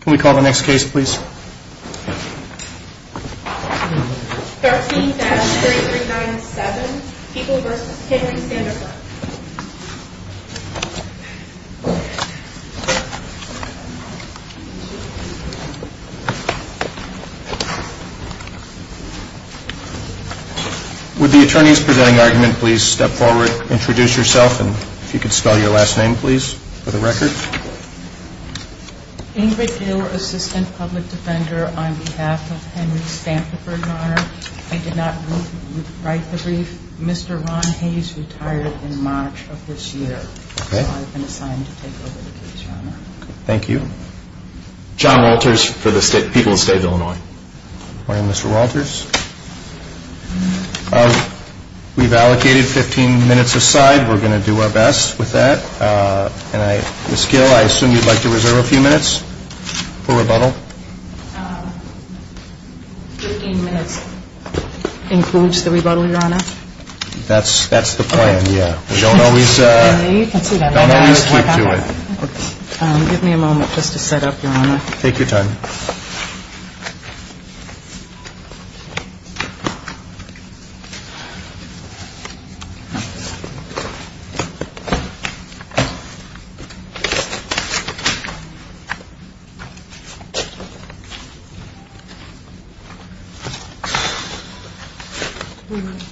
Can we call the next case please? 13-3397, People v. Henry Sandifer Would the attorneys presenting the argument please step forward, introduce yourself, and if you could spell your last name please, for the record. Ingrid Gill, Assistant Public Defender on behalf of Henry Sandifer, Your Honor. I did not write the brief. Mr. Ron Hayes retired in March of this year. So I've been assigned to take over the case, Your Honor. Thank you. John Walters, People v. State of Illinois. Good morning Mr. Walters. We've allocated 15 minutes aside. We're going to do our best with that. Ms. Gill, I assume you'd like to reserve a few minutes for rebuttal? 15 minutes includes the rebuttal, Your Honor. That's the plan, yeah. Don't always keep to it. Give me a moment just to set up, Your Honor. Take your time. Thank you.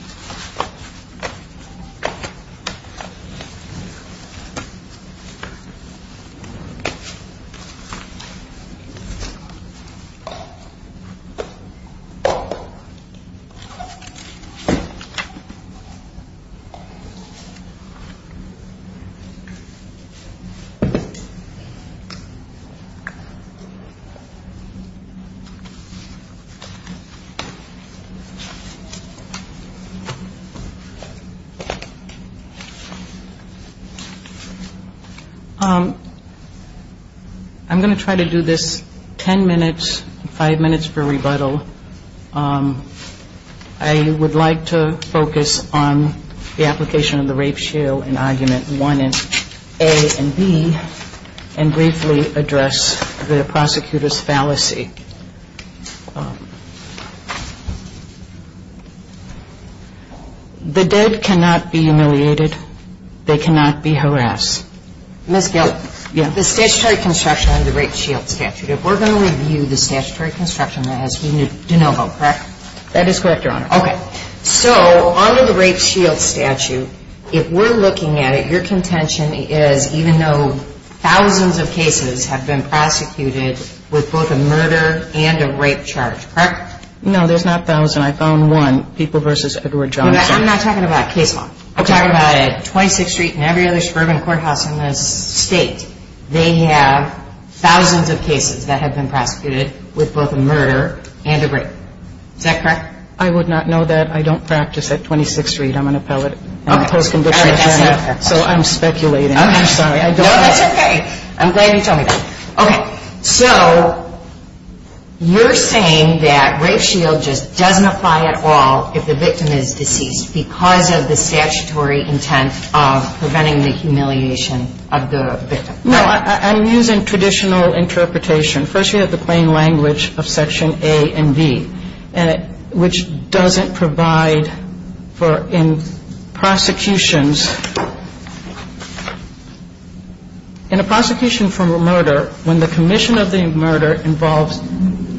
I'm going to try to do this tenuously. I would like to focus on the application of the rape shield in argument 1A and B and briefly address the prosecutor's fallacy. The dead cannot be humiliated. They cannot be harassed. Ms. Gill, the statutory construction on the rape shield statute, if we're going to review the statutory construction, that has to be de novo, correct? That is correct, Your Honor. Okay. So under the rape shield statute, if we're looking at it, your contention is even though thousands of cases have been prosecuted with both a murder and a rape charge, correct? No, there's not thousands. I found one, People v. Edward Johnson. I'm not talking about case law. I'm talking about 26th Street and every other suburban courthouse in this state. They have thousands of cases that have been prosecuted with both a murder and a rape. Is that correct? I would not know that. I don't practice at 26th Street. I'm a post-conviction attorney, so I'm speculating. I'm sorry. No, that's okay. I'm glad you told me that. Okay. So you're saying that rape shield just doesn't apply at all if the victim is deceased because of the statutory intent of preventing the humiliation of the victim. No, I'm using traditional interpretation. First, you have the plain language of Section A and B, which doesn't provide for prosecutions. In a prosecution for murder, when the commission of the murder involves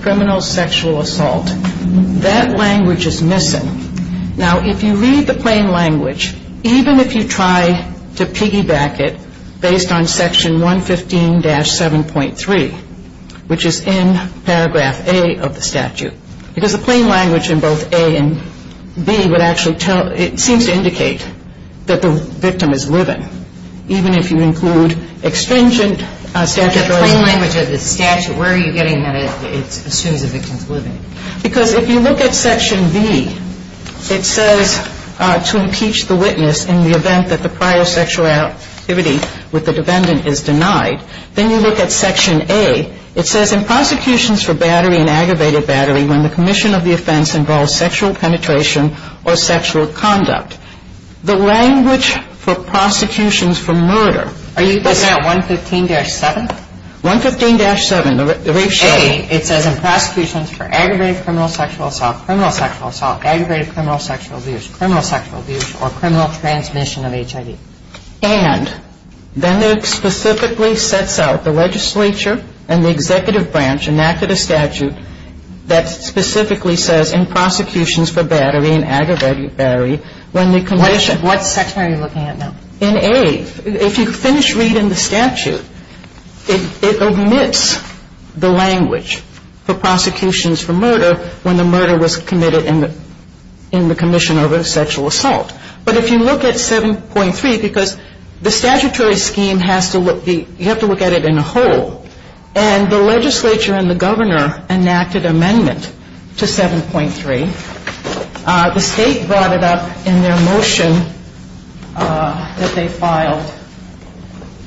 criminal sexual assault, that language is missing. Now, if you read the plain language, even if you try to piggyback it based on Section 115-7.3, which is in Paragraph A of the statute, because the plain language in both A and B would actually tell, it seems to indicate that the victim is living, even if you include extrinsic statutory intent. It says to impeach the witness in the event that the prior sexual activity with the defendant is denied. Then you look at Section A. It says in prosecutions for battery and aggravated battery, when the commission of the offense involves sexual penetration or sexual conduct, the language for prosecutions for murder. Are you looking at 115-7? 115-7, the rape shield. In Section A, it says in prosecutions for aggravated criminal sexual assault, criminal sexual assault, aggravated criminal sexual abuse, criminal sexual abuse, or criminal transmission of HIV. And then it specifically sets out the legislature and the executive branch enacted a statute that specifically says in prosecutions for battery and aggravated battery, when the commission. What section are you looking at now? In A, if you finish reading the statute, it omits the language for prosecutions for murder when the murder was committed in the commission of a sexual assault. But if you look at 7.3, because the statutory scheme has to look, you have to look at it in a whole. And the legislature and the governor enacted amendment to 7.3. The state brought it up in their motion that they filed,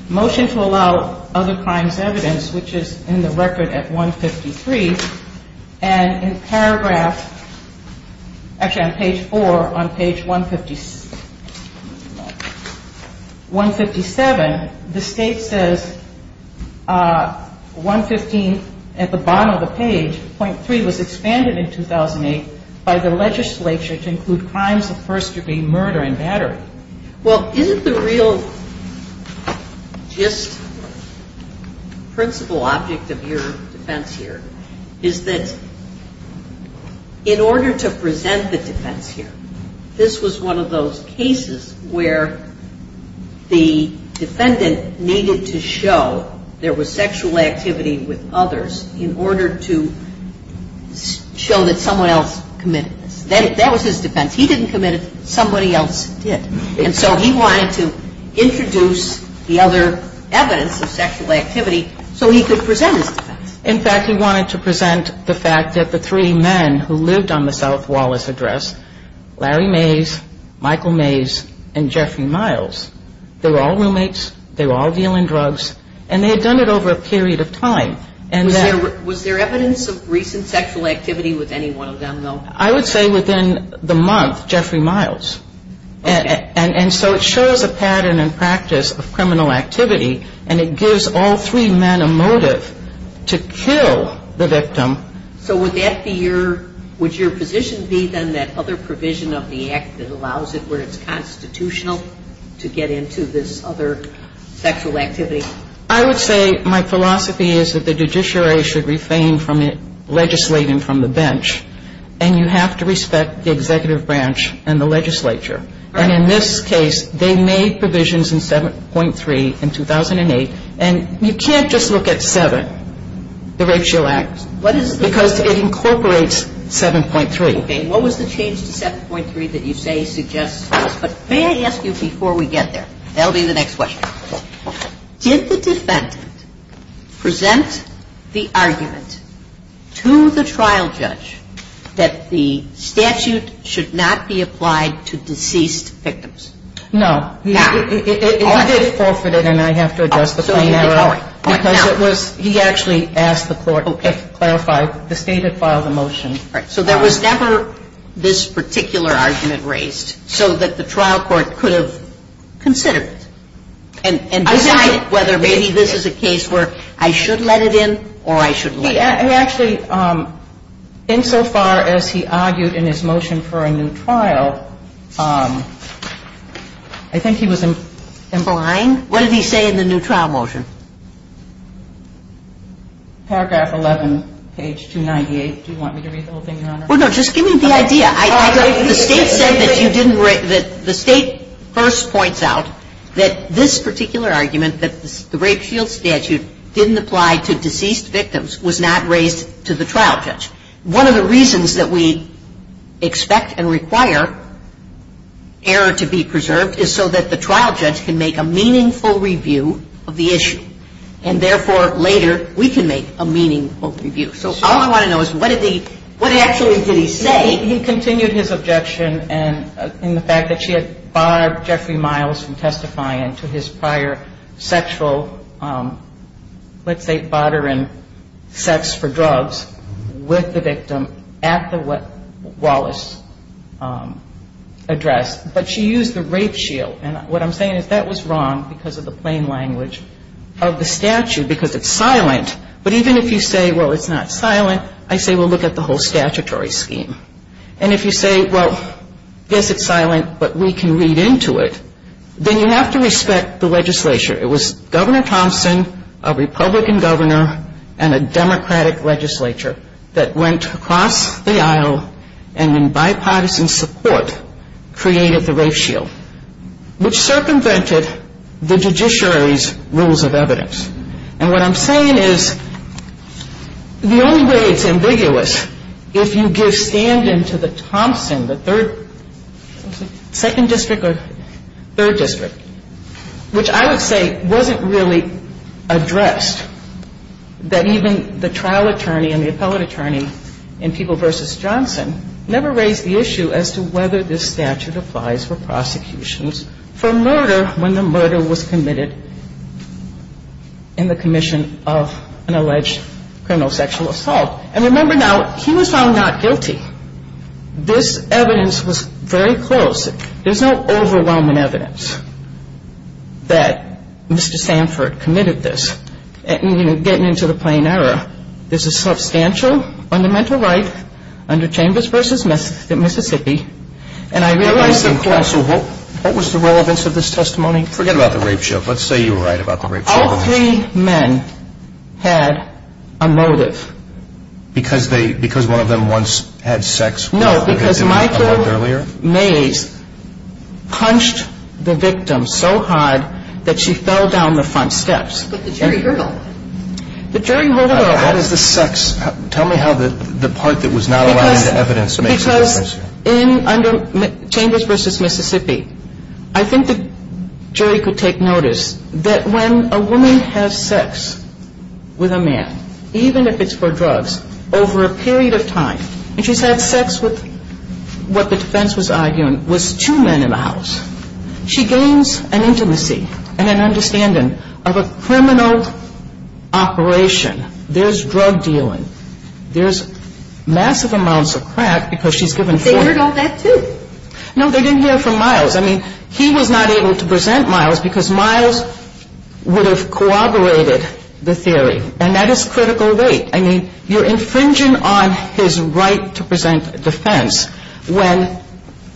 motion to allow other crimes evidence, which is in the record at 153. And in paragraph, actually on page 4, on page 157, the state says 115 at the bottom of the page, .3 was expanded in 2008 by the legislature to include crimes of first degree murder and battery. Well, isn't the real just principle object of your defense here is that in order to present the defense here, this was one of those cases where the defendant needed to show there was sexual activity with others in order to show that someone else committed this. That was his defense. He didn't commit it. Somebody else did. And so he wanted to introduce the other evidence of sexual activity so he could present his defense. In fact, he wanted to present the fact that the three men who lived on the South Wallace Address, Larry Mays, Michael Mays, and Jeffrey Miles, they were all roommates. They were all dealing drugs. And they had done it over a period of time. Was there evidence of recent sexual activity with any one of them, though? I would say within the month, Jeffrey Miles. Okay. And so it shows a pattern and practice of criminal activity, and it gives all three men a motive to kill the victim. So would that be your – would your position be then that other provision of the Act that allows it where it's constitutional to get into this other sexual activity? I would say my philosophy is that the judiciary should refrain from legislating from the bench, and you have to respect the executive branch and the legislature. And in this case, they made provisions in 7.3 in 2008. And you can't just look at 7, the Rape Shield Act, because it incorporates 7.3. Okay. What was the change to 7.3 that you say suggests? But may I ask you before we get there? That will be the next question. Did the defendant present the argument to the trial judge that the statute should not be applied to deceased victims? No. He did forfeit it, and I have to address the plain error. Because it was – he actually asked the court to clarify. The State had filed a motion. So there was never this particular argument raised so that the trial court could have considered it and decided whether maybe this is a case where I should let it in or I should let it out. Actually, insofar as he argued in his motion for a new trial, I think he was implying – What did he say in the new trial motion? Paragraph 11, page 298. Do you want me to read the whole thing, Your Honor? Well, no. Just give me the idea. The State said that you didn't – that the State first points out that this particular argument, that the Rape Shield statute didn't apply to deceased victims, was not raised to the trial judge. One of the reasons that we expect and require error to be preserved is so that the trial judge can make a meaningful review of the issue. And therefore, later, we can make a meaningful review. So all I want to know is what did he – what actually did he say? He continued his objection in the fact that she had barred Jeffrey Miles from testifying to his prior sexual, let's say, bothering sex for drugs with the victim at the Wallace address. But she used the Rape Shield. And what I'm saying is that was wrong because of the plain language of the statute because it's silent. But even if you say, well, it's not silent, I say, well, look at the whole statutory scheme. And if you say, well, yes, it's silent, but we can read into it, then you have to respect the legislature. It was Governor Thompson, a Republican governor, and a Democratic legislature that went across the aisle and, in bipartisan support, created the Rape Shield, which circumvented the judiciary's rules of evidence. And what I'm saying is the only way it's ambiguous, if you give stand-in to the Thompson, the third – second district or third district, which I would say wasn't really addressed, that even the trial attorney and the appellate attorney in People v. Johnson never raised the issue as to whether this statute applies for prosecutions for murder when the murder was committed. And the commission of an alleged criminal sexual assault. And remember now, he was found not guilty. This evidence was very close. There's no overwhelming evidence that Mr. Sanford committed this. And, you know, getting into the plain error, there's a substantial fundamental right under Chambers v. Mississippi. And I realize that counsel – What was the relevance of this testimony? Forget about the Rape Shield. Let's say you were right about the Rape Shield. All three men had a motive. Because they – because one of them once had sex with the victim a month earlier? No, because Michael Mays punched the victim so hard that she fell down the front steps. But the jury heard all of it. The jury heard all of it. How does the sex – tell me how the part that was not allowed into evidence makes a difference here. In – under Chambers v. Mississippi, I think the jury could take notice that when a woman has sex with a man, even if it's for drugs, over a period of time, and she's had sex with what the defense was arguing was two men in the house, she gains an intimacy and an understanding of a criminal operation. There's drug dealing. There's massive amounts of crack because she's given – But they heard all that too. No, they didn't hear it from Myles. I mean, he was not able to present Myles because Myles would have corroborated the theory. And that is critical weight. I mean, you're infringing on his right to present defense when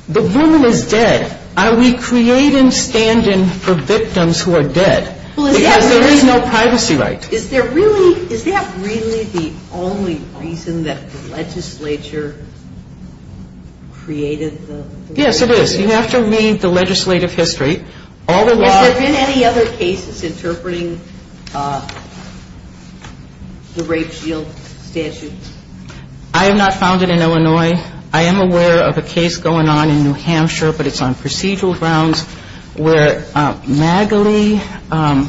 the woman is dead. Are we creating standing for victims who are dead? Because there is no privacy right. Is there really – is that really the only reason that the legislature created the – Yes, it is. You have to read the legislative history. All the law – Has there been any other cases interpreting the rape shield statute? I have not found it in Illinois. I am aware of a case going on in New Hampshire, but it's on procedural grounds, where Magalie – Well,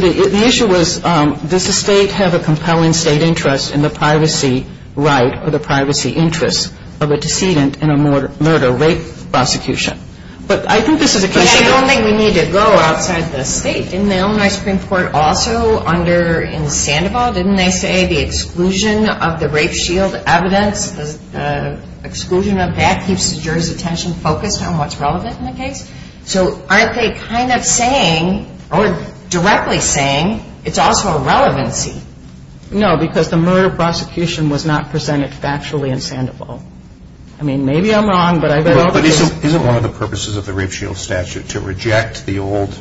the issue was, does the state have a compelling state interest in the privacy right or the privacy interests of a decedent in a murder, rape prosecution? But I think this is a – But I don't think we need to go outside the state. Didn't the Illinois Supreme Court also under – in Sandoval, didn't they say the exclusion of the rape shield evidence, the exclusion of that keeps the jury's attention focused on what's relevant in the case? So aren't they kind of saying or directly saying it's also a relevancy? No, because the murder prosecution was not presented factually in Sandoval. I mean, maybe I'm wrong, but I – But isn't one of the purposes of the rape shield statute to reject the old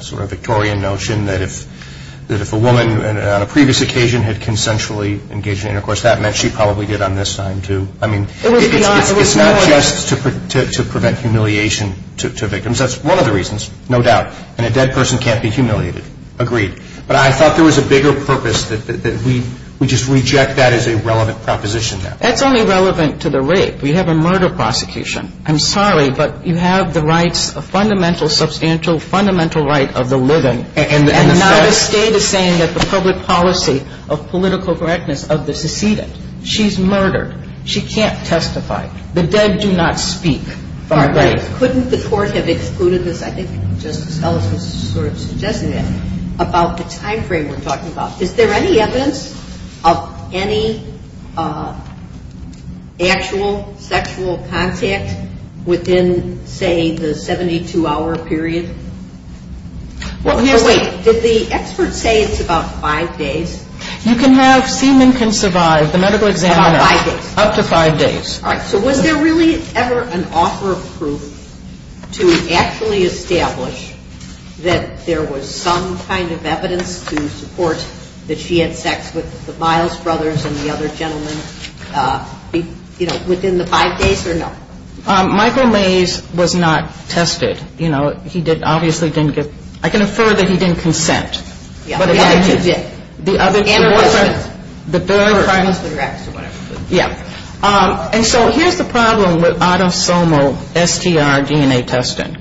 sort of Victorian notion that if – that if a woman on a previous occasion had consensually engaged in intercourse, that meant she probably did on this time too? I mean, it's not just to prevent humiliation, that's one of the reasons, no doubt, and a dead person can't be humiliated. Agreed. But I thought there was a bigger purpose that we just reject that as a relevant proposition now. That's only relevant to the rape. We have a murder prosecution. I'm sorry, but you have the rights, a fundamental, substantial, fundamental right of the living. And now the state is saying that the public policy of political correctness of the decedent. She's murdered. She can't testify. The dead do not speak. Couldn't the court have excluded this? I think Justice Ellis was sort of suggesting that. About the time frame we're talking about, is there any evidence of any actual sexual contact within, say, the 72-hour period? Well, yes. Oh, wait. Did the experts say it's about five days? You can have – semen can survive the medical examiner. About five days. Up to five days. All right. So was there really ever an offer of proof to actually establish that there was some kind of evidence to support that she had sex with the Miles brothers and the other gentlemen, you know, within the five days or no? Michael Mays was not tested. You know, he obviously didn't get – I can infer that he didn't consent. Yeah. The other two did. The other two wasn't. And her husband. Yeah. Yeah. And so here's the problem with autosomal STR DNA testing.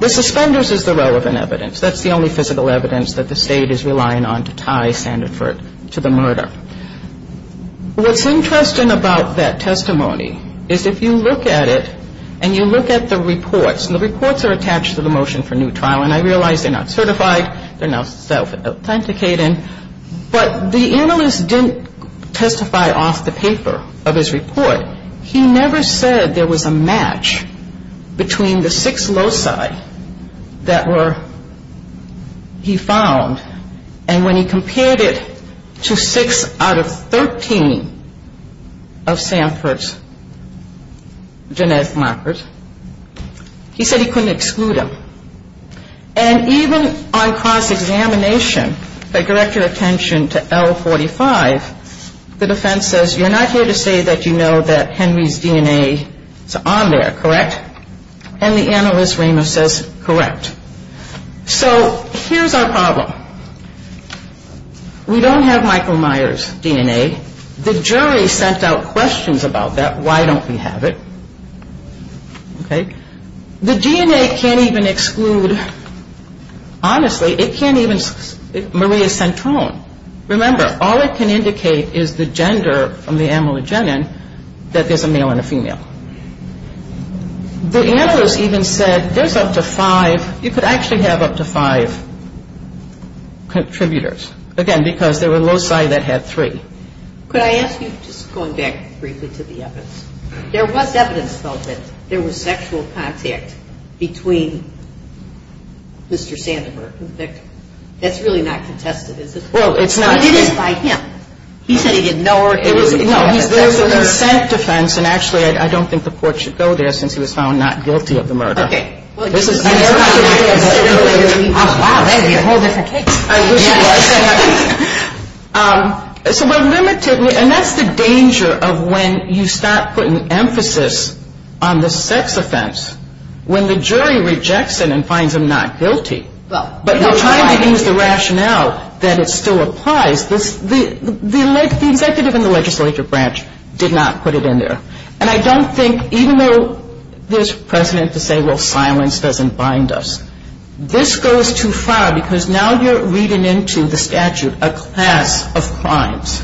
The suspenders is the relevant evidence. That's the only physical evidence that the State is relying on to tie Sandiford to the murder. What's interesting about that testimony is if you look at it and you look at the reports, and the reports are attached to the motion for new trial, and I realize they're not certified. They're not self-authenticating. But the analyst didn't testify off the paper of his report. He never said there was a match between the six loci that were – he found. And when he compared it to six out of 13 of Sandford's genetic markers, he said he couldn't exclude them. And even on cross-examination, if I direct your attention to L45, the defense says, you're not here to say that you know that Henry's DNA is on there, correct? And the analyst, Ramos, says, correct. So here's our problem. We don't have Michael Myers' DNA. The jury sent out questions about that. Why don't we have it? Okay. The DNA can't even exclude – honestly, it can't even – Maria Centrone. Remember, all it can indicate is the gender from the amylogenin that there's a male and a female. The analyst even said there's up to five – you could actually have up to five contributors, again, because there were loci that had three. Could I ask you, just going back briefly to the evidence, there was evidence, though, that there was sexual contact between Mr. Sandiford and the victim. That's really not contested, is it? Well, it's not. It is by him. He said he didn't know her. No, there's a consent defense, and actually I don't think the court should go there since he was found not guilty of the murder. Okay. This is – Wow, that would be a whole different case. I wish it was. So we're limited – and that's the danger of when you start putting emphasis on the sex offense, when the jury rejects it and finds him not guilty, but you're trying to use the rationale that it still applies. The executive in the legislature branch did not put it in there. And I don't think – even though there's precedent to say, well, silence doesn't bind us, this goes too far because now you're reading into the statute a class of crimes.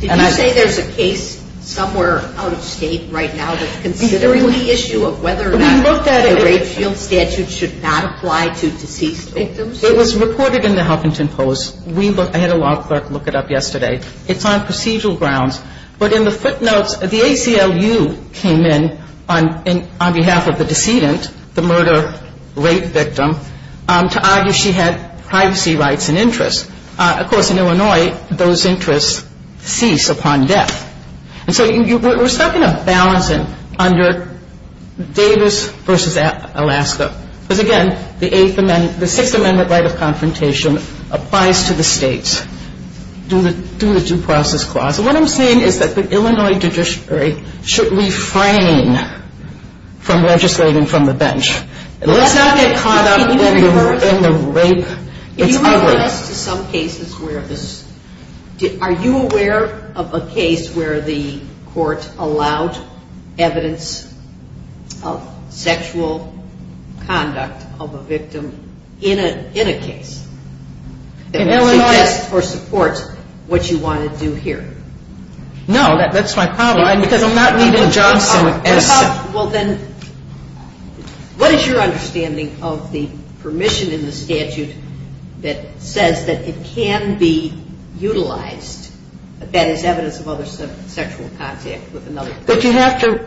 Did you say there's a case somewhere out of state right now that's considering the issue of whether or not the rape field statute should not apply to deceased victims? It was reported in the Huffington Post. I had a law clerk look it up yesterday. It's on procedural grounds. But in the footnotes, the ACLU came in on behalf of the decedent, the murder rape victim, to argue she had privacy rights and interests. Of course, in Illinois, those interests cease upon death. And so we're stuck in a balancing under Davis versus Alaska. Because, again, the Sixth Amendment right of confrontation applies to the states due to the due process clause. So what I'm saying is that the Illinois judiciary should refrain from legislating from the bench. Let's not get caught up in the rape. Can you refer us to some cases where this – are you aware of a case where the court allowed evidence of sexual conduct of a victim in a case? In Illinois. That suggests or supports what you want to do here. No, that's my problem. Because I'm not leaving Johnson as – Well, then, what is your understanding of the permission in the statute that says that it can be utilized, that that is evidence of other sexual contact with another person? But you have to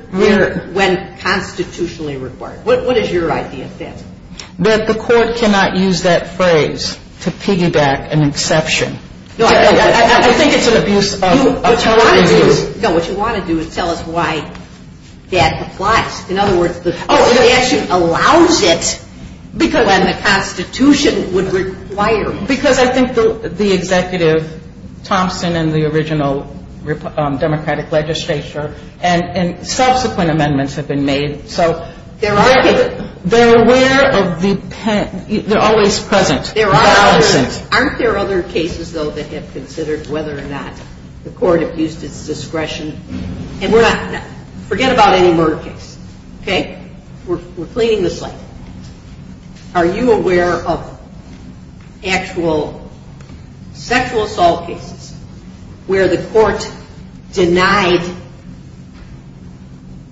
– When constitutionally required. What is your idea of that? That the court cannot use that phrase to piggyback an exception. I think it's an abuse of authority. No, what you want to do is tell us why that applies. In other words, the statute allows it when the constitution would require it. Because I think the Executive Thompson and the original Democratic legislature and subsequent amendments have been made. They're aware of the – they're always present. Aren't there other cases, though, that have considered whether or not the court abused its discretion? And we're not – forget about any murder case, okay? We're cleaning the slate. Are you aware of actual sexual assault cases where the court denied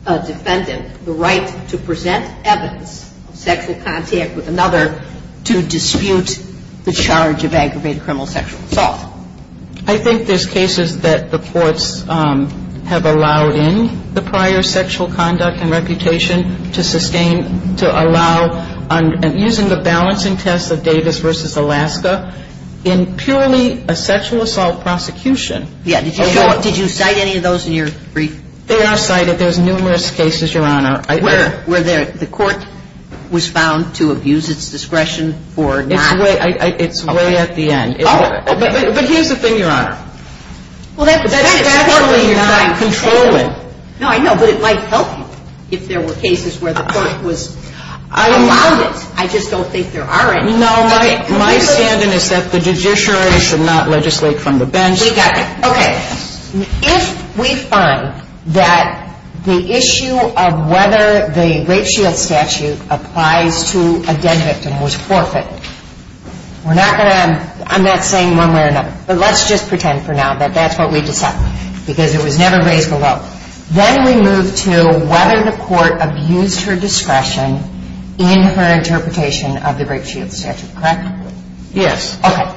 a defendant the right to present evidence of sexual contact with another to dispute the charge of aggravated criminal sexual assault? I think there's cases that the courts have allowed in the prior sexual conduct and reputation to sustain – to allow, using the balancing test of Davis v. Alaska, in purely a sexual assault prosecution. Yeah. Did you cite any of those in your brief? They are cited. I cite those numerous cases, Your Honor. Where the court was found to abuse its discretion for not – It's way at the end. Oh. But here's the thing, Your Honor. That's definitely not controlling. No, I know. But it might help you if there were cases where the court was – allowed it. I just don't think there are any. No, my standing is that the judiciary should not legislate from the bench. We got you. Okay. If we find that the issue of whether the rape shield statute applies to a dead victim was forfeited, we're not going to – I'm not saying one way or another, but let's just pretend for now that that's what we decide, because it was never raised below. Then we move to whether the court abused her discretion in her interpretation of the rape shield statute, correct? Yes. Okay.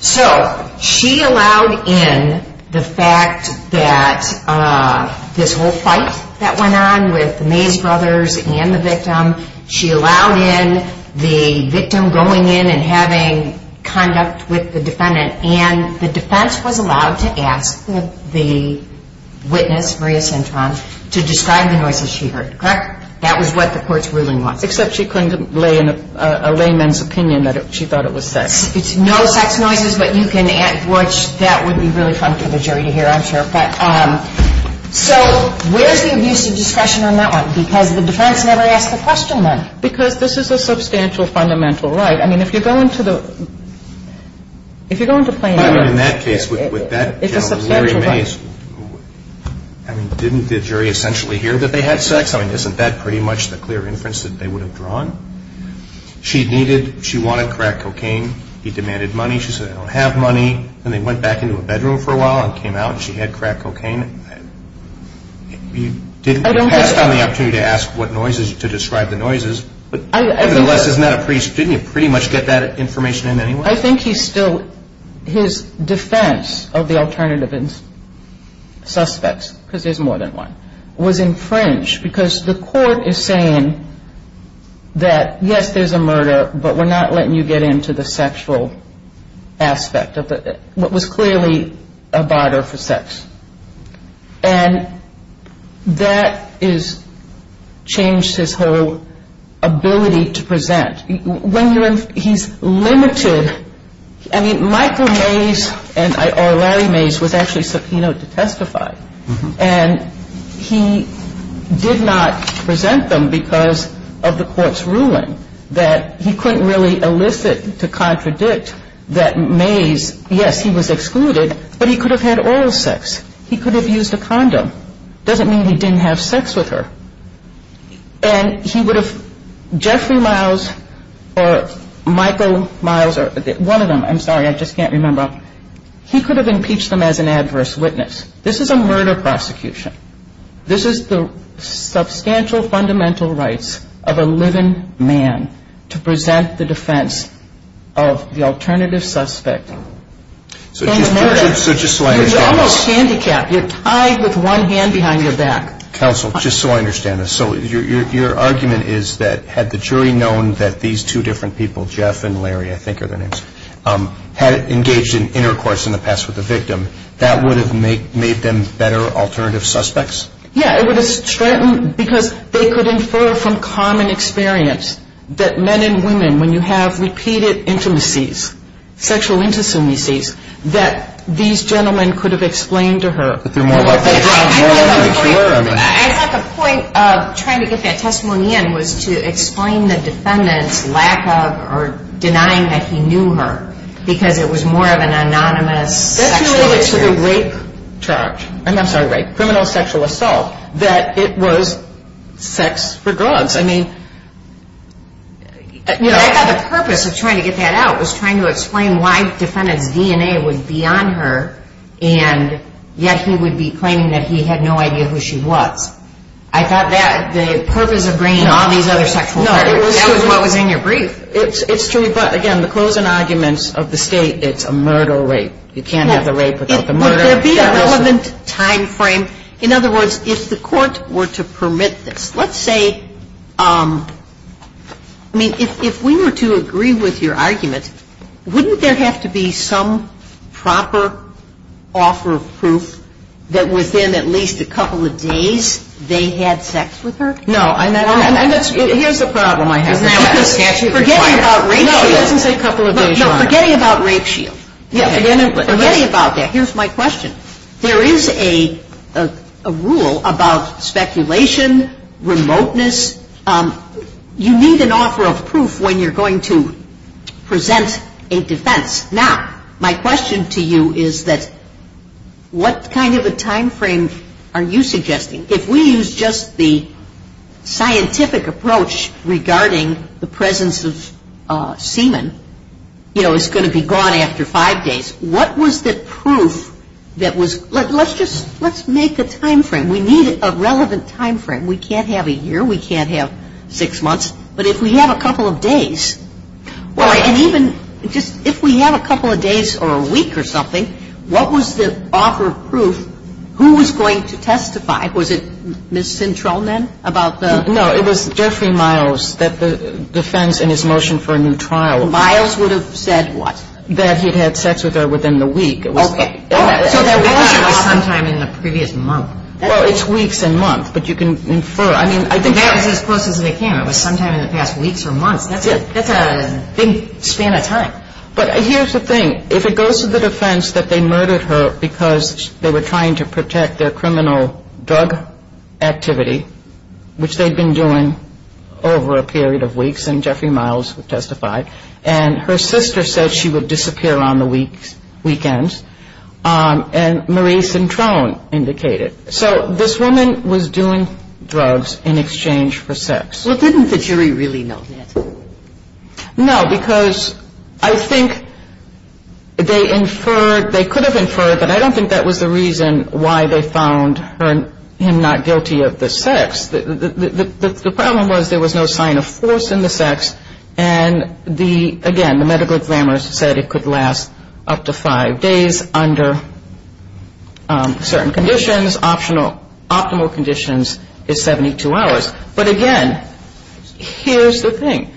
So she allowed in the fact that this whole fight that went on with the Mays brothers and the victim, she allowed in the victim going in and having conduct with the defendant, and the defense was allowed to ask the witness, Maria Cintron, to describe the noises she heard, correct? That was what the court's ruling was. Except she couldn't lay in a layman's opinion that she thought it was sex. It's no sex noises, but you can – which that would be really fun for the jury to hear, I'm sure. But so where's the abuse of discretion on that one? Because the defense never asked the question then. Because this is a substantial fundamental right. I mean, if you're going to the – if you're going to play a – I mean, in that case, with that gentleman, Larry Mays, I mean, didn't the jury essentially hear that they had sex? I mean, isn't that pretty much the clear inference that they would have drawn? She needed – she wanted crack cocaine. He demanded money. She said, I don't have money. Then they went back into a bedroom for a while and came out, and she had crack cocaine. You didn't – you passed on the opportunity to ask what noises – to describe the noises. But nevertheless, isn't that a pretty – didn't you pretty much get that information in anyway? I think he still – his defense of the alternative suspects, because there's more than one, was infringed because the court is saying that, yes, there's a murder, but we're not letting you get into the sexual aspect of it. It was clearly a barter for sex. And that is – changed his whole ability to present. When you're – he's limited. I mean, Michael Mays and – or Larry Mays was actually subpoenaed to testify. And he did not present them because of the court's ruling that he couldn't really elicit to contradict that Mays – yes, he was excluded, but he could have had oral sex. He could have used a condom. It doesn't mean he didn't have sex with her. And he would have – Jeffrey Miles or Michael Miles – one of them. I'm sorry, I just can't remember. He could have impeached them as an adverse witness. This is a murder prosecution. This is the substantial fundamental rights of a living man to present the defense of the alternative suspect. So just so I understand – You're almost handicapped. You're tied with one hand behind your back. Counsel, just so I understand this, so your argument is that had the jury known that these two different people, Jeff and Larry, I think are their names, had engaged in intercourse in the past with the victim, that would have made them better alternative suspects? Yeah, it would have strengthened – because they could infer from common experience that men and women, when you have repeated intimacies, sexual intimacies, that these gentlemen could have explained to her. That they're more likely to drown more than they cure? I thought the point of trying to get that testimony in was to explain the defendant's lack of or denying that he knew her because it was more of an anonymous sexual intercourse. That's related to the rape charge. I'm sorry, rape. Criminal sexual assault. That it was sex for drugs. I mean – I thought the purpose of trying to get that out was trying to explain why the defendant's DNA was beyond her and yet he would be claiming that he had no idea who she was. I thought that the purpose of bringing all these other sexual charges – No, it was true. That was what was in your brief. It's true, but again, the closing arguments of the State, it's a murder-rape. You can't have the rape without the murder. Would there be a relevant timeframe? In other words, if the Court were to permit this, let's say – I mean, if we were to agree with your argument, wouldn't there have to be some proper offer of proof that within at least a couple of days they had sex with her? No, and that's – here's the problem I have. Forgetting about Rape Shield. No, it doesn't say a couple of days. Forgetting about Rape Shield. Forgetting about that. Here's my question. There is a rule about speculation, remoteness. You need an offer of proof when you're going to present a defense. Now, my question to you is that what kind of a timeframe are you suggesting? If we use just the scientific approach regarding the presence of semen, you know, it's going to be gone after five days. What was the proof that was – let's just – let's make a timeframe. We need a relevant timeframe. We can't have a year. We can't have six months. But if we have a couple of days, and even just if we have a couple of days or a week or something, what was the offer of proof? Who was going to testify? Was it Ms. Cintron then about the – No, it was Jeffrey Miles that the defense in his motion for a new trial – Miles would have said what? That he had had sex with her within the week. Okay. It was sometime in the previous month. Well, it's weeks and months, but you can infer. I mean, I think – That was as close as they came. It was sometime in the past weeks or months. That's a big span of time. But here's the thing. If it goes to the defense that they murdered her because they were trying to protect their criminal drug activity, which they'd been doing over a period of weeks, and Jeffrey Miles testified, and her sister said she would disappear on the weekends, and Marie Cintron indicated. So this woman was doing drugs in exchange for sex. Well, didn't the jury really know that? No, because I think they inferred – they could have inferred, but I don't think that was the reason why they found him not guilty of the sex. The problem was there was no sign of force in the sex, and the – again, the medical examiner said it could last up to five days under certain conditions. Optimal conditions is 72 hours. But again, here's the thing.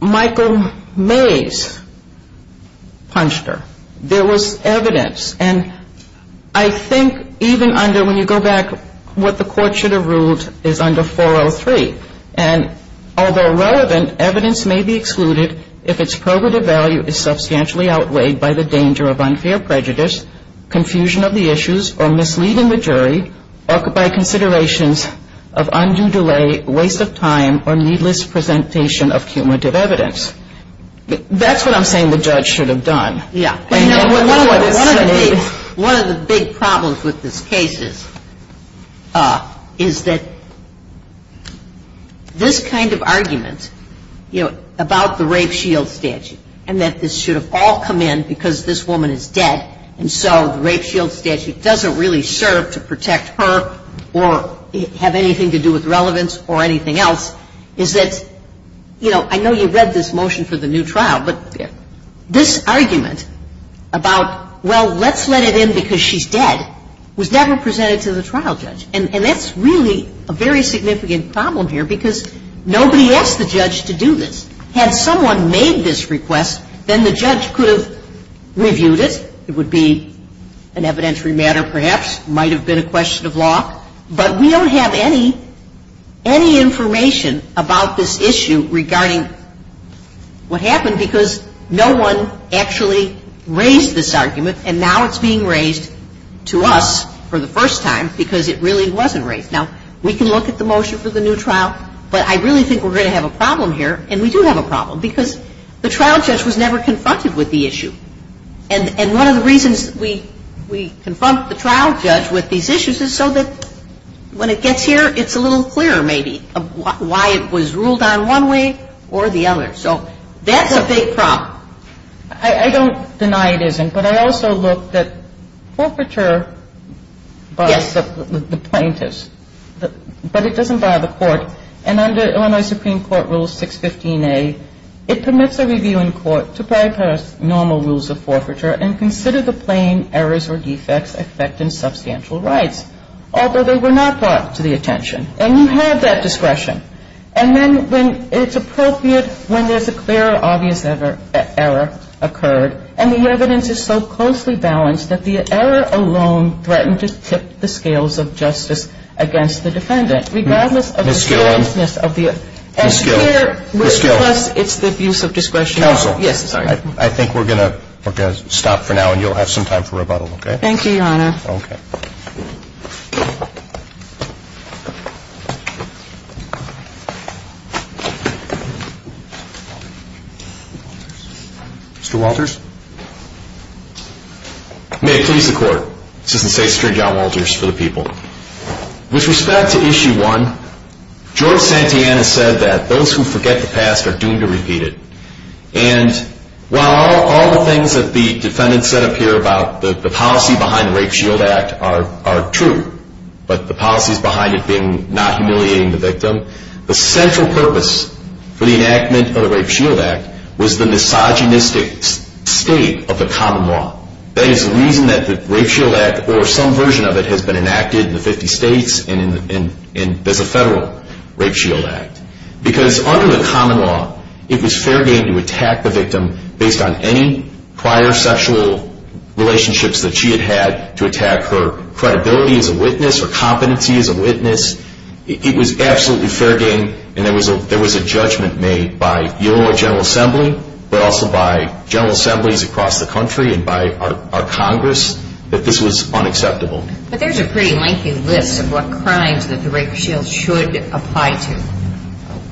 Michael Mays punched her. There was evidence, and I think even under – when you go back, what the court should have ruled is under 403. And although relevant, evidence may be excluded if its probative value is substantially outweighed by the danger of unfair prejudice, confusion of the issues, or misleading the jury, or by considerations of undue delay, waste of time, or needless presentation of cumulative evidence. That's what I'm saying the judge should have done. Yeah. One of the big problems with this case is that this kind of argument, you know, about the rape shield statute and that this should have all come in because this woman is dead and so the rape shield statute doesn't really serve to protect her or have anything to do with relevance or anything else, is that, you know, I know you read this motion for the new trial, but this argument about, well, let's let it in because she's dead, was never presented to the trial judge. And that's really a very significant problem here because nobody asked the judge to do this. Had someone made this request, then the judge could have reviewed it. It would be an evidentiary matter perhaps, might have been a question of law. But we don't have any information about this issue regarding what happened because no one actually raised this argument and now it's being raised to us for the first time because it really wasn't raised. Now, we can look at the motion for the new trial, but I really think we're going to have a problem here. And we do have a problem because the trial judge was never confronted with the issue. And one of the reasons we confront the trial judge with these issues is so that when it gets here, it's a little clearer maybe why it was ruled on one way or the other. So that's a big problem. I don't deny it isn't, but I also look that forfeiture by the plaintiffs, but it doesn't bother the court. And under Illinois Supreme Court Rule 615A, it permits a review in court to bypass normal rules of forfeiture and consider the plain errors or defects affecting substantial rights, although they were not brought to the attention. And you have that discretion. And then when it's appropriate, when there's a clear, obvious error occurred, and the evidence is so closely balanced that the error alone threatened to tip the scales of justice against the defendant. Regardless of the seriousness of the error. Ms. Gill. Ms. Gill. Ms. Gill. Plus it's the abuse of discretion. Counsel. Yes, sir. I think we're going to stop for now and you'll have some time for rebuttal, okay? Thank you, Your Honor. Okay. Mr. Walters. May it please the Court, Assistant State Secretary John Walters, for the people. With respect to Issue 1, George Santayana said that those who forget the past are doomed to repeat it. And while all the things that the defendant said up here about the policy behind the Rape Shield Act are true, but the policies behind it being not humiliating the victim, the central purpose for the enactment of the Rape Shield Act was the misogynistic state of the common law. That is the reason that the Rape Shield Act or some version of it has been enacted in the 50 states and there's a federal Rape Shield Act. Because under the common law, it was fair game to attack the victim based on any prior sexual relationships that she had had to attack her credibility as a witness or competency as a witness. It was absolutely fair game and there was a judgment made by your General Assembly, but also by General Assemblies across the country and by our Congress that this was unacceptable. But there's a pretty lengthy list of what crimes that the Rape Shield should apply to.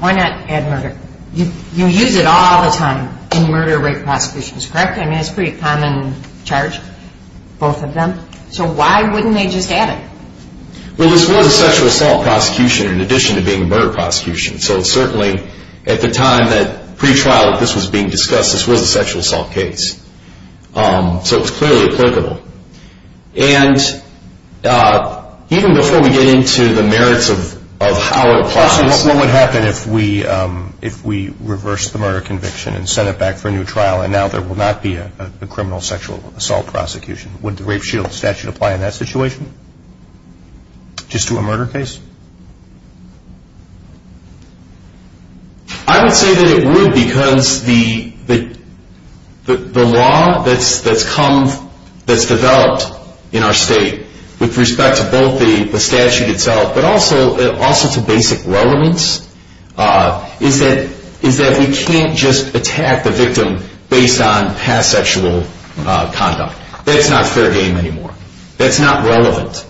Why not add murder? You use it all the time in murder rate prosecutions, correct? I mean, it's a pretty common charge, both of them. So why wouldn't they just add it? Well, this was a sexual assault prosecution in addition to being a murder prosecution. So certainly at the time that pretrial of this was being discussed, this was a sexual assault case. So it was clearly applicable. And even before we get into the merits of how it applies. What would happen if we reversed the murder conviction and sent it back for a new trial and now there will not be a criminal sexual assault prosecution? Would the Rape Shield statute apply in that situation? Just to a murder case? I would say that it would because the law that's developed in our state with respect to both the statute itself but also to basic relevance is that we can't just attack the victim based on past sexual conduct. That's not fair game anymore. That's not relevant.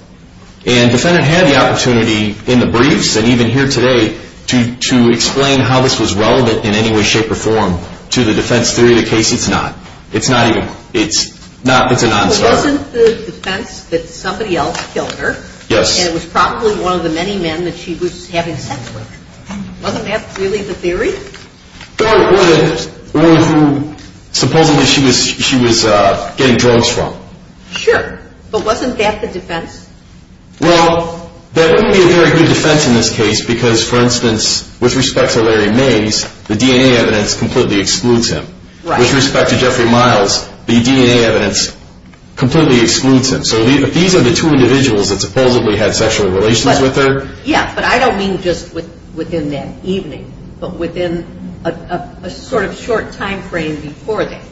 And the defendant had the opportunity in the briefs and even here today to explain how this was relevant in any way, shape, or form to the defense theory of the case. It's not. It's not even. It's not. It's a non-starter. It wasn't the defense that somebody else killed her. Yes. And it was probably one of the many men that she was having sex with. Wasn't that really the theory? Or supposedly she was getting drugs from. Sure. But wasn't that the defense? Well, that wouldn't be a very good defense in this case because, for instance, with respect to Larry Mays, the DNA evidence completely excludes him. Right. With respect to Jeffrey Miles, the DNA evidence completely excludes him. So these are the two individuals that supposedly had sexual relations with her. Yeah, but I don't mean just within that evening, but within a sort of short timeframe before that.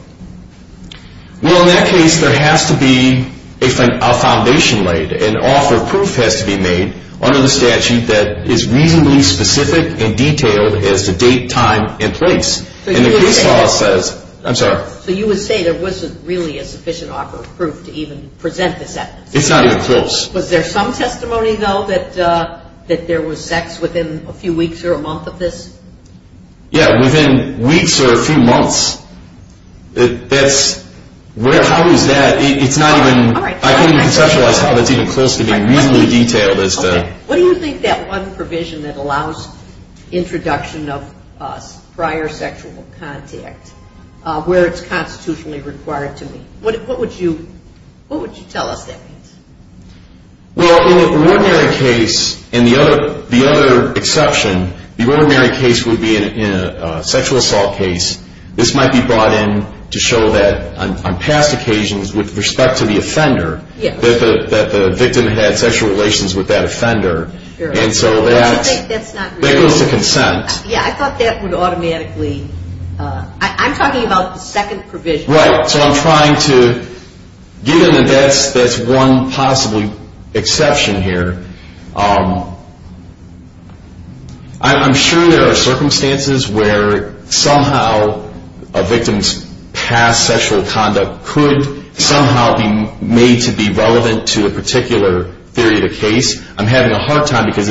Well, in that case, there has to be a foundation laid. An offer of proof has to be made under the statute that is reasonably specific and detailed as to date, time, and place. And the case law says... I'm sorry. So you would say there wasn't really a sufficient offer of proof to even present the sentence? It's not even close. Was there some testimony, though, that there was sex within a few weeks or a month of this? Yeah, within weeks or a few months. That's... How is that? It's not even... All right. I can't even conceptualize how that's even close to being reasonably detailed as to... What do you think that one provision that allows introduction of prior sexual contact, where it's constitutionally required to be. What would you tell us that means? Well, in an ordinary case, and the other exception, the ordinary case would be in a sexual assault case. This might be brought in to show that on past occasions with respect to the offender, that the victim had sexual relations with that offender. And so that... I think that's not reasonable. That goes to consent. Yeah, I thought that would automatically... I'm talking about the second provision. Right, so I'm trying to... Given that that's one possible exception here, I'm sure there are circumstances where somehow a victim's past sexual conduct could somehow be made to be relevant to a particular theory of the case. I'm having a hard time because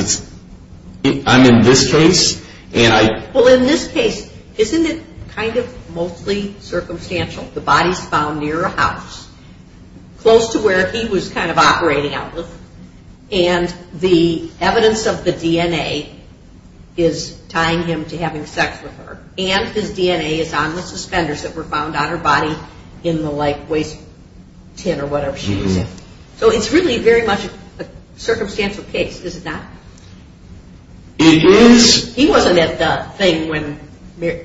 I'm in this case, and I... Well, in this case, isn't it kind of mostly circumstantial? The body's found near a house, close to where he was kind of operating out of, and the evidence of the DNA is tying him to having sex with her, and his DNA is on the suspenders that were found on her body in the, like, waste tin or whatever she was in. So it's really very much a circumstantial case, is it not? It is. He wasn't at the thing when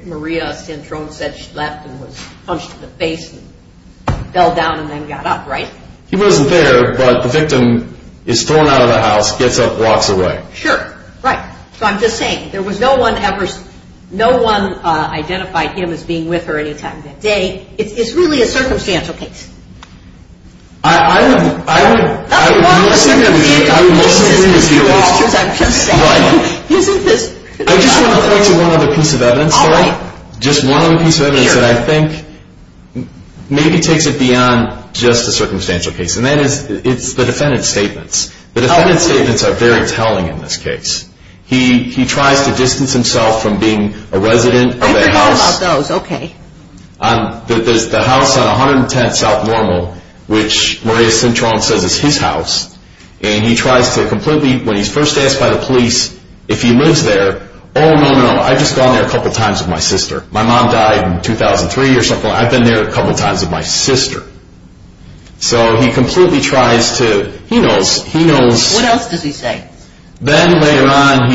Maria Centrone said she left and was punched in the face and fell down and then got up, right? He wasn't there, but the victim is thrown out of the house, gets up, walks away. Sure, right. So I'm just saying, there was no one ever... No one identified him as being with her any time that day. It's really a circumstantial case. I would... That's why I'm assuming... I'm assuming... Isn't this... I just want to point to one other piece of evidence. All right. Just one other piece of evidence that I think maybe takes it beyond just a circumstantial case, and that is it's the defendant's statements. The defendant's statements are very telling in this case. He tries to distance himself from being a resident of a house... I forgot about those. Okay. The house on 110th South Normal, which Maria Centrone says is his house, and he tries to completely... When he's first asked by the police if he lives there, oh, no, no, no, I've just gone there a couple times with my sister. My mom died in 2003 or something like that. I've been there a couple times with my sister. So he completely tries to... He knows. He knows. What else does he say? Then later on,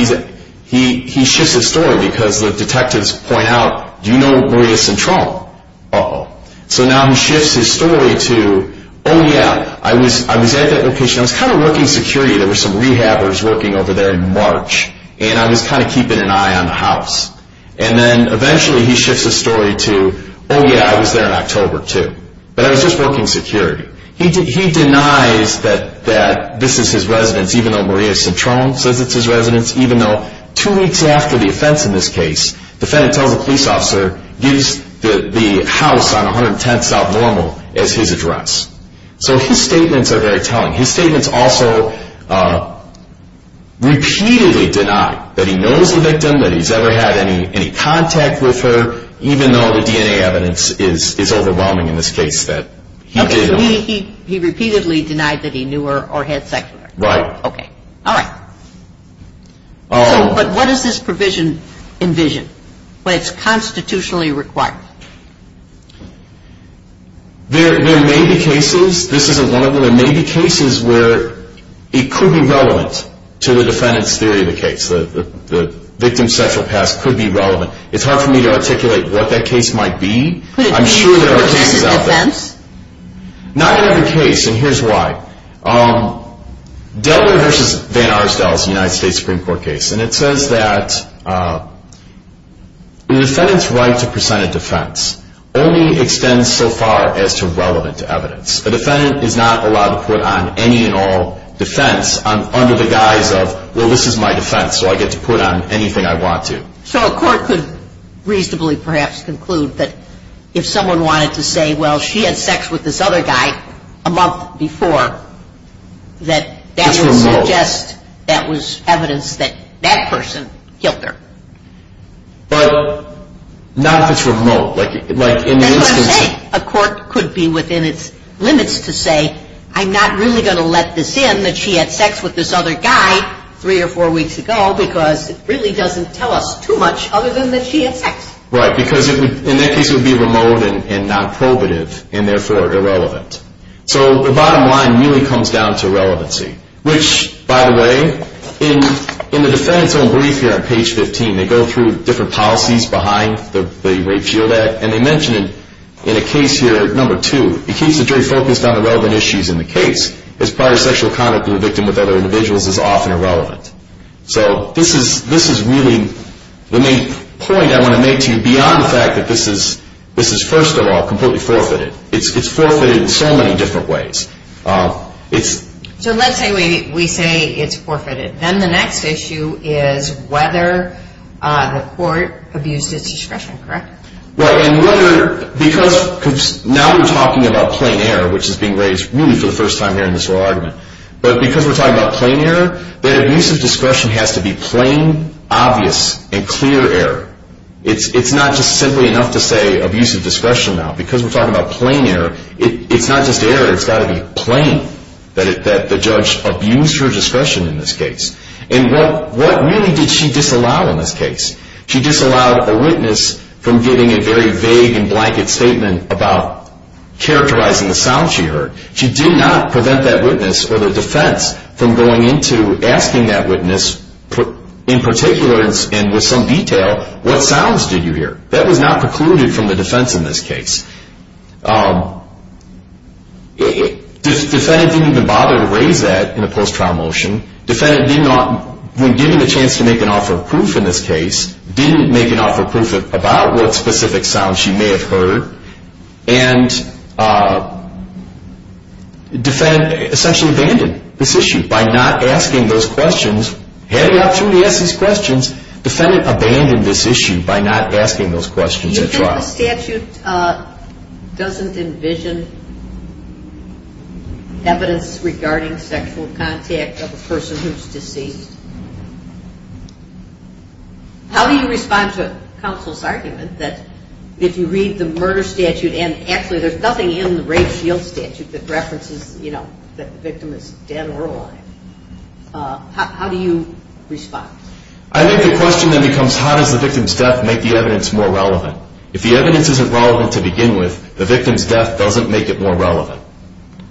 he shifts his story because the detectives point out, do you know Maria Centrone? Uh-oh. So now he shifts his story to, oh, yeah, I was at that location. I was kind of working security. There were some rehabbers working over there in March, and I was kind of keeping an eye on the house. And then eventually he shifts his story to, oh, yeah, I was there in October too, but I was just working security. He denies that this is his residence, even though Maria Centrone says it's his residence, even though two weeks after the offense in this case, the defendant tells the police officer, gives the house on 110th South Normal as his address. So his statements are very telling. His statements also repeatedly deny that he knows the victim, that he's ever had any contact with her, even though the DNA evidence is overwhelming in this case that he did. He repeatedly denied that he knew her or had sex with her. Right. Okay. All right. But what does this provision envision? What is constitutionally required? There may be cases, this isn't one of them, there may be cases where it could be relevant to the defendant's theory of the case. The victim's sexual past could be relevant. It's hard for me to articulate what that case might be. Could it be for a defendant's defense? I'm sure there are cases out there. Not another case, and here's why. Delaware v. Van Arsdale is a United States Supreme Court case, and it says that the defendant's right to present a defense only extends so far as to relevant evidence. A defendant is not allowed to put on any and all defense under the guise of, well, this is my defense, so I get to put on anything I want to. So a court could reasonably perhaps conclude that if someone wanted to say, well, she had sex with this other guy a month before, that that would suggest that was evidence that that person killed her. But not if it's remote. That's what I'm saying. A court could be within its limits to say, I'm not really going to let this in that she had sex with this other guy three or four weeks ago because it really doesn't tell us too much other than that she had sex. Right, because in that case it would be remote and not probative, and therefore irrelevant. So the bottom line really comes down to relevancy. Which, by the way, in the defendant's own brief here on page 15, they go through different policies behind the Rape Shield Act, and they mention it in a case here, number two. It keeps the jury focused on the relevant issues in the case, as prior sexual conduct of the victim with other individuals is often irrelevant. So this is really the main point I want to make to you, beyond the fact that this is, first of all, completely forfeited. It's forfeited in so many different ways. So let's say we say it's forfeited. Then the next issue is whether the court abused its discretion, correct? Right, and because now we're talking about plain error, which is being raised really for the first time here in this whole argument. But because we're talking about plain error, that abuse of discretion has to be plain, obvious, and clear error. It's not just simply enough to say abuse of discretion now. Because we're talking about plain error, it's not just error. It's got to be plain that the judge abused her discretion in this case. And what really did she disallow in this case? She disallowed a witness from giving a very vague and blanket statement about characterizing the sound she heard. She did not prevent that witness or the defense from going into asking that witness, in particular and with some detail, what sounds did you hear? That was not precluded from the defense in this case. Defendant didn't even bother to raise that in a post-trial motion. Defendant, when given the chance to make an offer of proof in this case, didn't make an offer of proof about what specific sounds she may have heard. And defendant essentially abandoned this issue by not asking those questions. Had the opportunity to ask these questions, defendant abandoned this issue by not asking those questions at trial. You said the statute doesn't envision evidence regarding sexual contact of a person who's deceased. How do you respond to counsel's argument that if you read the murder statute and actually there's nothing in the rape shield statute that references, you know, that the victim is dead or alive, how do you respond? I think the question then becomes how does the victim's death make the evidence more relevant? If the evidence isn't relevant to begin with, the victim's death doesn't make it more relevant.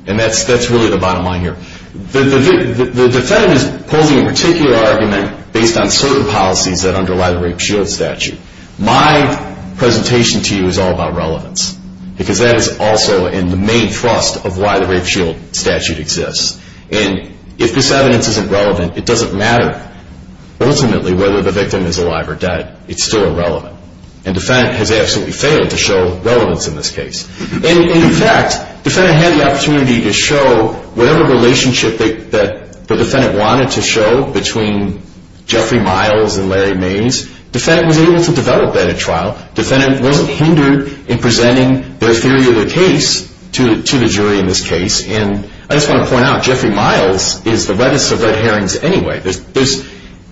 And that's really the bottom line here. The defendant is posing a particular argument based on certain policies that underlie the rape shield statute. My presentation to you is all about relevance, because that is also in the main thrust of why the rape shield statute exists. And if this evidence isn't relevant, it doesn't matter ultimately whether the victim is alive or dead. It's still irrelevant. And defendant has absolutely failed to show relevance in this case. And in fact, defendant had the opportunity to show whatever relationship that the defendant wanted to show between Jeffrey Miles and Larry Mays. Defendant was able to develop that at trial. Defendant wasn't hindered in presenting their theory of their case to the jury in this case. And I just want to point out, Jeffrey Miles is the reddest of red herrings anyway.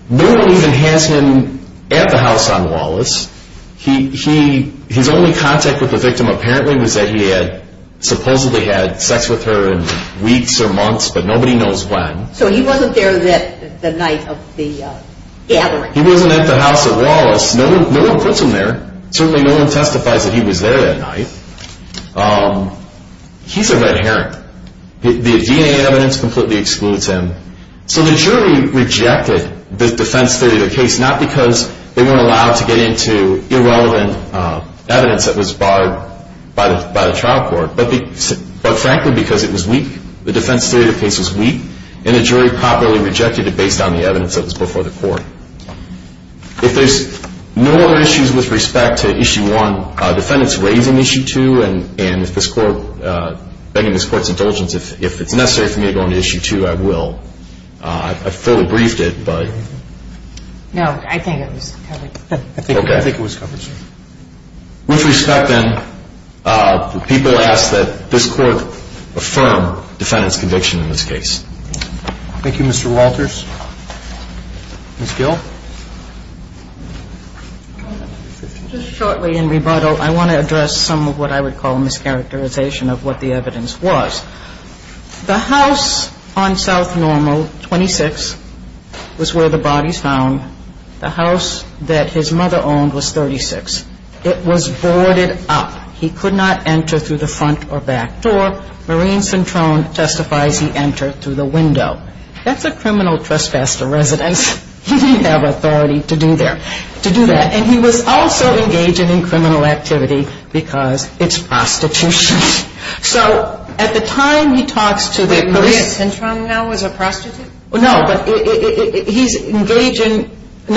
Nobody even has him at the house on Wallace. His only contact with the victim apparently was that he had supposedly had sex with her in weeks or months, but nobody knows when. So he wasn't there the night of the gathering. He wasn't at the house at Wallace. No one puts him there. Certainly no one testifies that he was there that night. He's a red herring. The DNA evidence completely excludes him. So the jury rejected the defense theory of the case, not because they weren't allowed to get into irrelevant evidence that was barred by the trial court, but frankly because it was weak. The defense theory of the case was weak, and the jury properly rejected it based on the evidence that was before the court. If there's no other issues with respect to Issue 1, defendant's raising Issue 2, and if this Court, begging this Court's indulgence, if it's necessary for me to go into Issue 2, I will. I fully briefed it, but. No, I think it was covered. Okay. I think it was covered, sir. With respect, then, the people ask that this Court affirm defendant's conviction in this case. Thank you, Mr. Walters. Ms. Gill. Just shortly in rebuttal, I want to address some of what I would call a mischaracterization of what the evidence was. The house on South Normal, 26, was where the bodies found. The house that his mother owned was 36. It was boarded up. He could not enter through the front or back door. Maureen Centrone testifies he entered through the window. That's a criminal trespass to residence. He didn't have authority to do that. And he was also engaging in criminal activity because it's prostitution. So at the time he talks to the police. Maureen Centrone now was a prostitute? No, but he's engaging. No,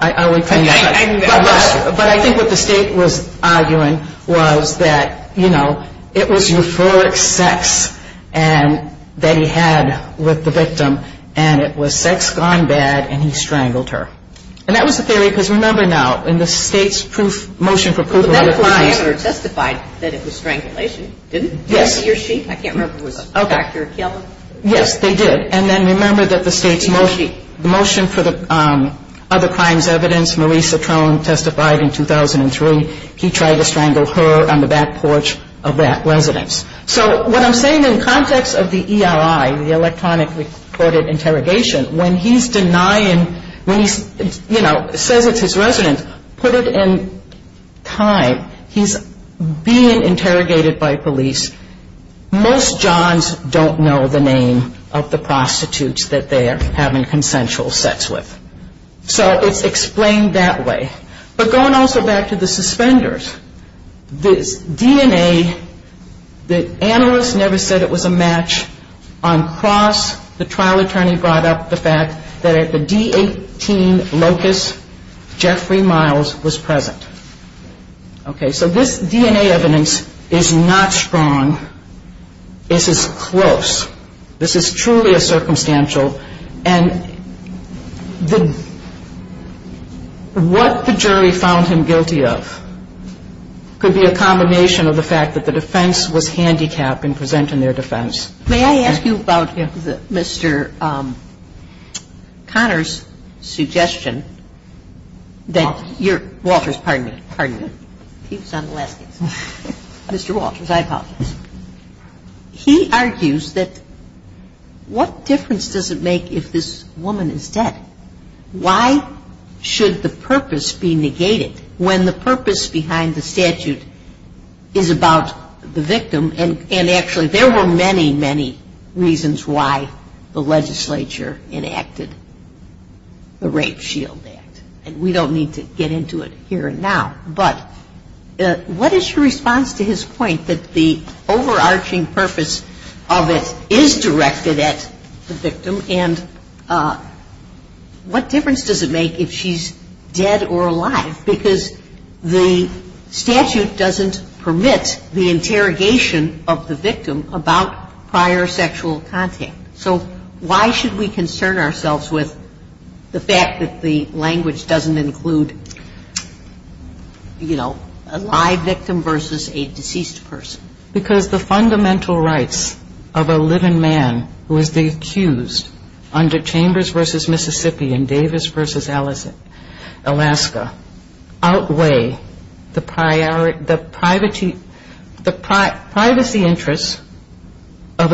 I would claim that. But I think what the State was arguing was that, you know, it was euphoric sex that he had with the victim. And it was sex gone bad, and he strangled her. And that was the theory, because remember now, in the State's motion for proof of other crimes. The medical examiner testified that it was strangulation, didn't he? Yes. He or she? I can't remember if it was Dr. Kellen. Yes, they did. And then remember that the State's motion for the other crimes evidence, Maureen Centrone testified in 2003, he tried to strangle her on the back porch of that residence. So what I'm saying in context of the EII, the electronic recorded interrogation, when he's denying, when he, you know, says it's his residence, put it in time. He's being interrogated by police. Most Johns don't know the name of the prostitutes that they are having consensual sex with. So it's explained that way. But going also back to the suspenders, this DNA, the analyst never said it was a match. On cross, the trial attorney brought up the fact that at the D18 locus, Jeffrey Miles was present. Okay, so this DNA evidence is not strong. This is close. This is truly a circumstantial. And what the jury found him guilty of could be a combination of the fact that the defense was handicapped in presenting their defense. May I ask you about Mr. Conner's suggestion that your -- Walters. Walters, pardon me. Pardon me. He was on the last case. Mr. Walters, I apologize. He argues that what difference does it make if this woman is dead? Why should the purpose be negated when the purpose behind the statute is about the victim? And actually, there were many, many reasons why the legislature enacted the Rape Shield Act. And we don't need to get into it here and now. But what is your response to his point that the overarching purpose of it is directed at the victim, and what difference does it make if she's dead or alive? Because the statute doesn't permit the interrogation of the victim about prior sexual contact. So why should we concern ourselves with the fact that the language doesn't include a live victim versus a deceased person? Because the fundamental rights of a living man who is the accused under Chambers v. Mississippi and Davis v. Alaska outweigh the privacy interests of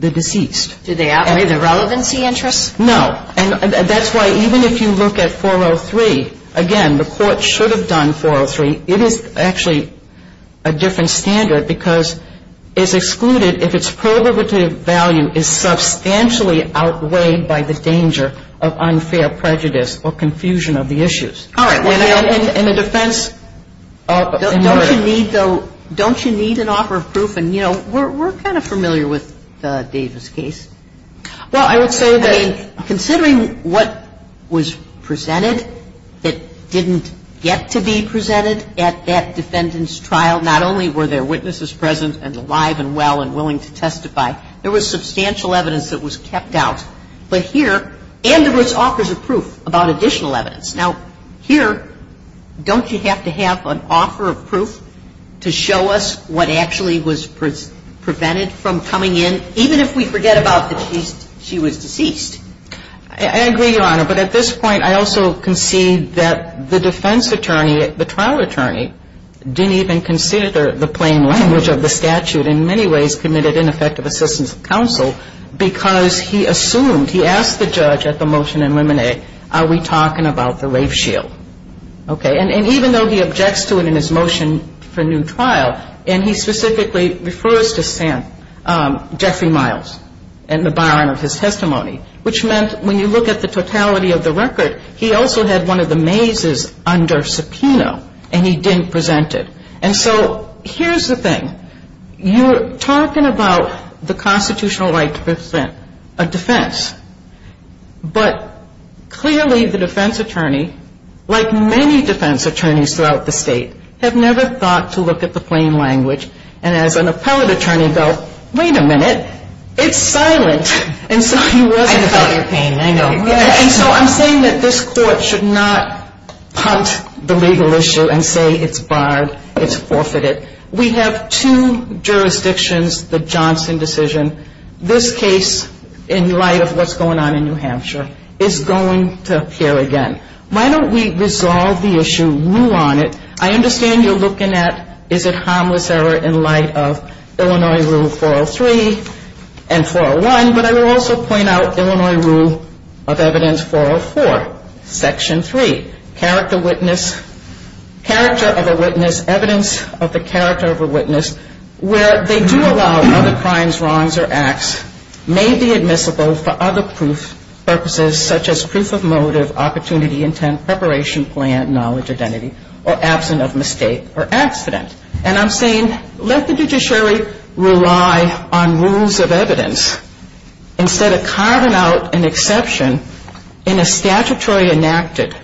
the deceased. Do they outweigh the relevancy interests? No. And that's why even if you look at 403, again, the Court should have done 403. It is actually a different standard because it's excluded if its proliferative value is substantially outweighed by the danger of unfair prejudice or confusion of the issues. All right. And the defense of emergency. Don't you need, though, don't you need an offer of proof? And, you know, we're kind of familiar with Davis' case. Well, I would say that I mean, considering what was presented that didn't get to be presented at that defendant's trial, not only were there witnesses present and alive and well and willing to testify, there was substantial evidence that was kept out. But here, and there was offers of proof about additional evidence. Now, here, don't you have to have an offer of proof to show us what actually was prevented from coming in, even if we forget about that she was deceased? I agree, Your Honor. But at this point, I also concede that the defense attorney, the trial attorney, didn't even consider the plain language of the statute and in many ways committed ineffective assistance of counsel because he assumed, he asked the judge at the motion in Lemonet, are we talking about the rape shield? Okay. And even though he objects to it in his motion for new trial, and he specifically refers to Sam, Jeffrey Miles and the byline of his testimony, which meant when you look at the totality of the record, he also had one of the mazes under subpoena and he didn't present it. And so here's the thing. You're talking about the constitutional right to present a defense, but clearly the defense attorneys throughout the state have never thought to look at the plain language and as an appellate attorney felt, wait a minute, it's silent. And so he wasn't. I felt your pain. I know. And so I'm saying that this court should not punt the legal issue and say it's barred, it's forfeited. We have two jurisdictions, the Johnson decision. This case, in light of what's going on in New Hampshire, is going to appear again. Why don't we resolve the issue, rule on it. I understand you're looking at is it harmless error in light of Illinois Rule 403 and 401, but I will also point out Illinois Rule of Evidence 404, Section 3. Character of a witness, evidence of the character of a witness where they do allow other crimes, wrongs or acts may be admissible for other purposes such as proof of motive, opportunity, intent, preparation, plan, knowledge, identity, or absent of mistake or accident. And I'm saying let the judiciary rely on rules of evidence instead of carving out an exception in a statutory enacted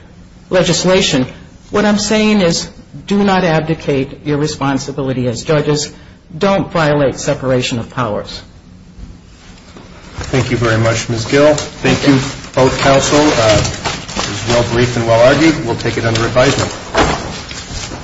legislation. What I'm saying is do not abdicate your responsibility as judges. Don't violate separation of powers. Thank you very much, Ms. Gill. Thank you, both counsel. It was well briefed and well argued. We'll take it under advisement.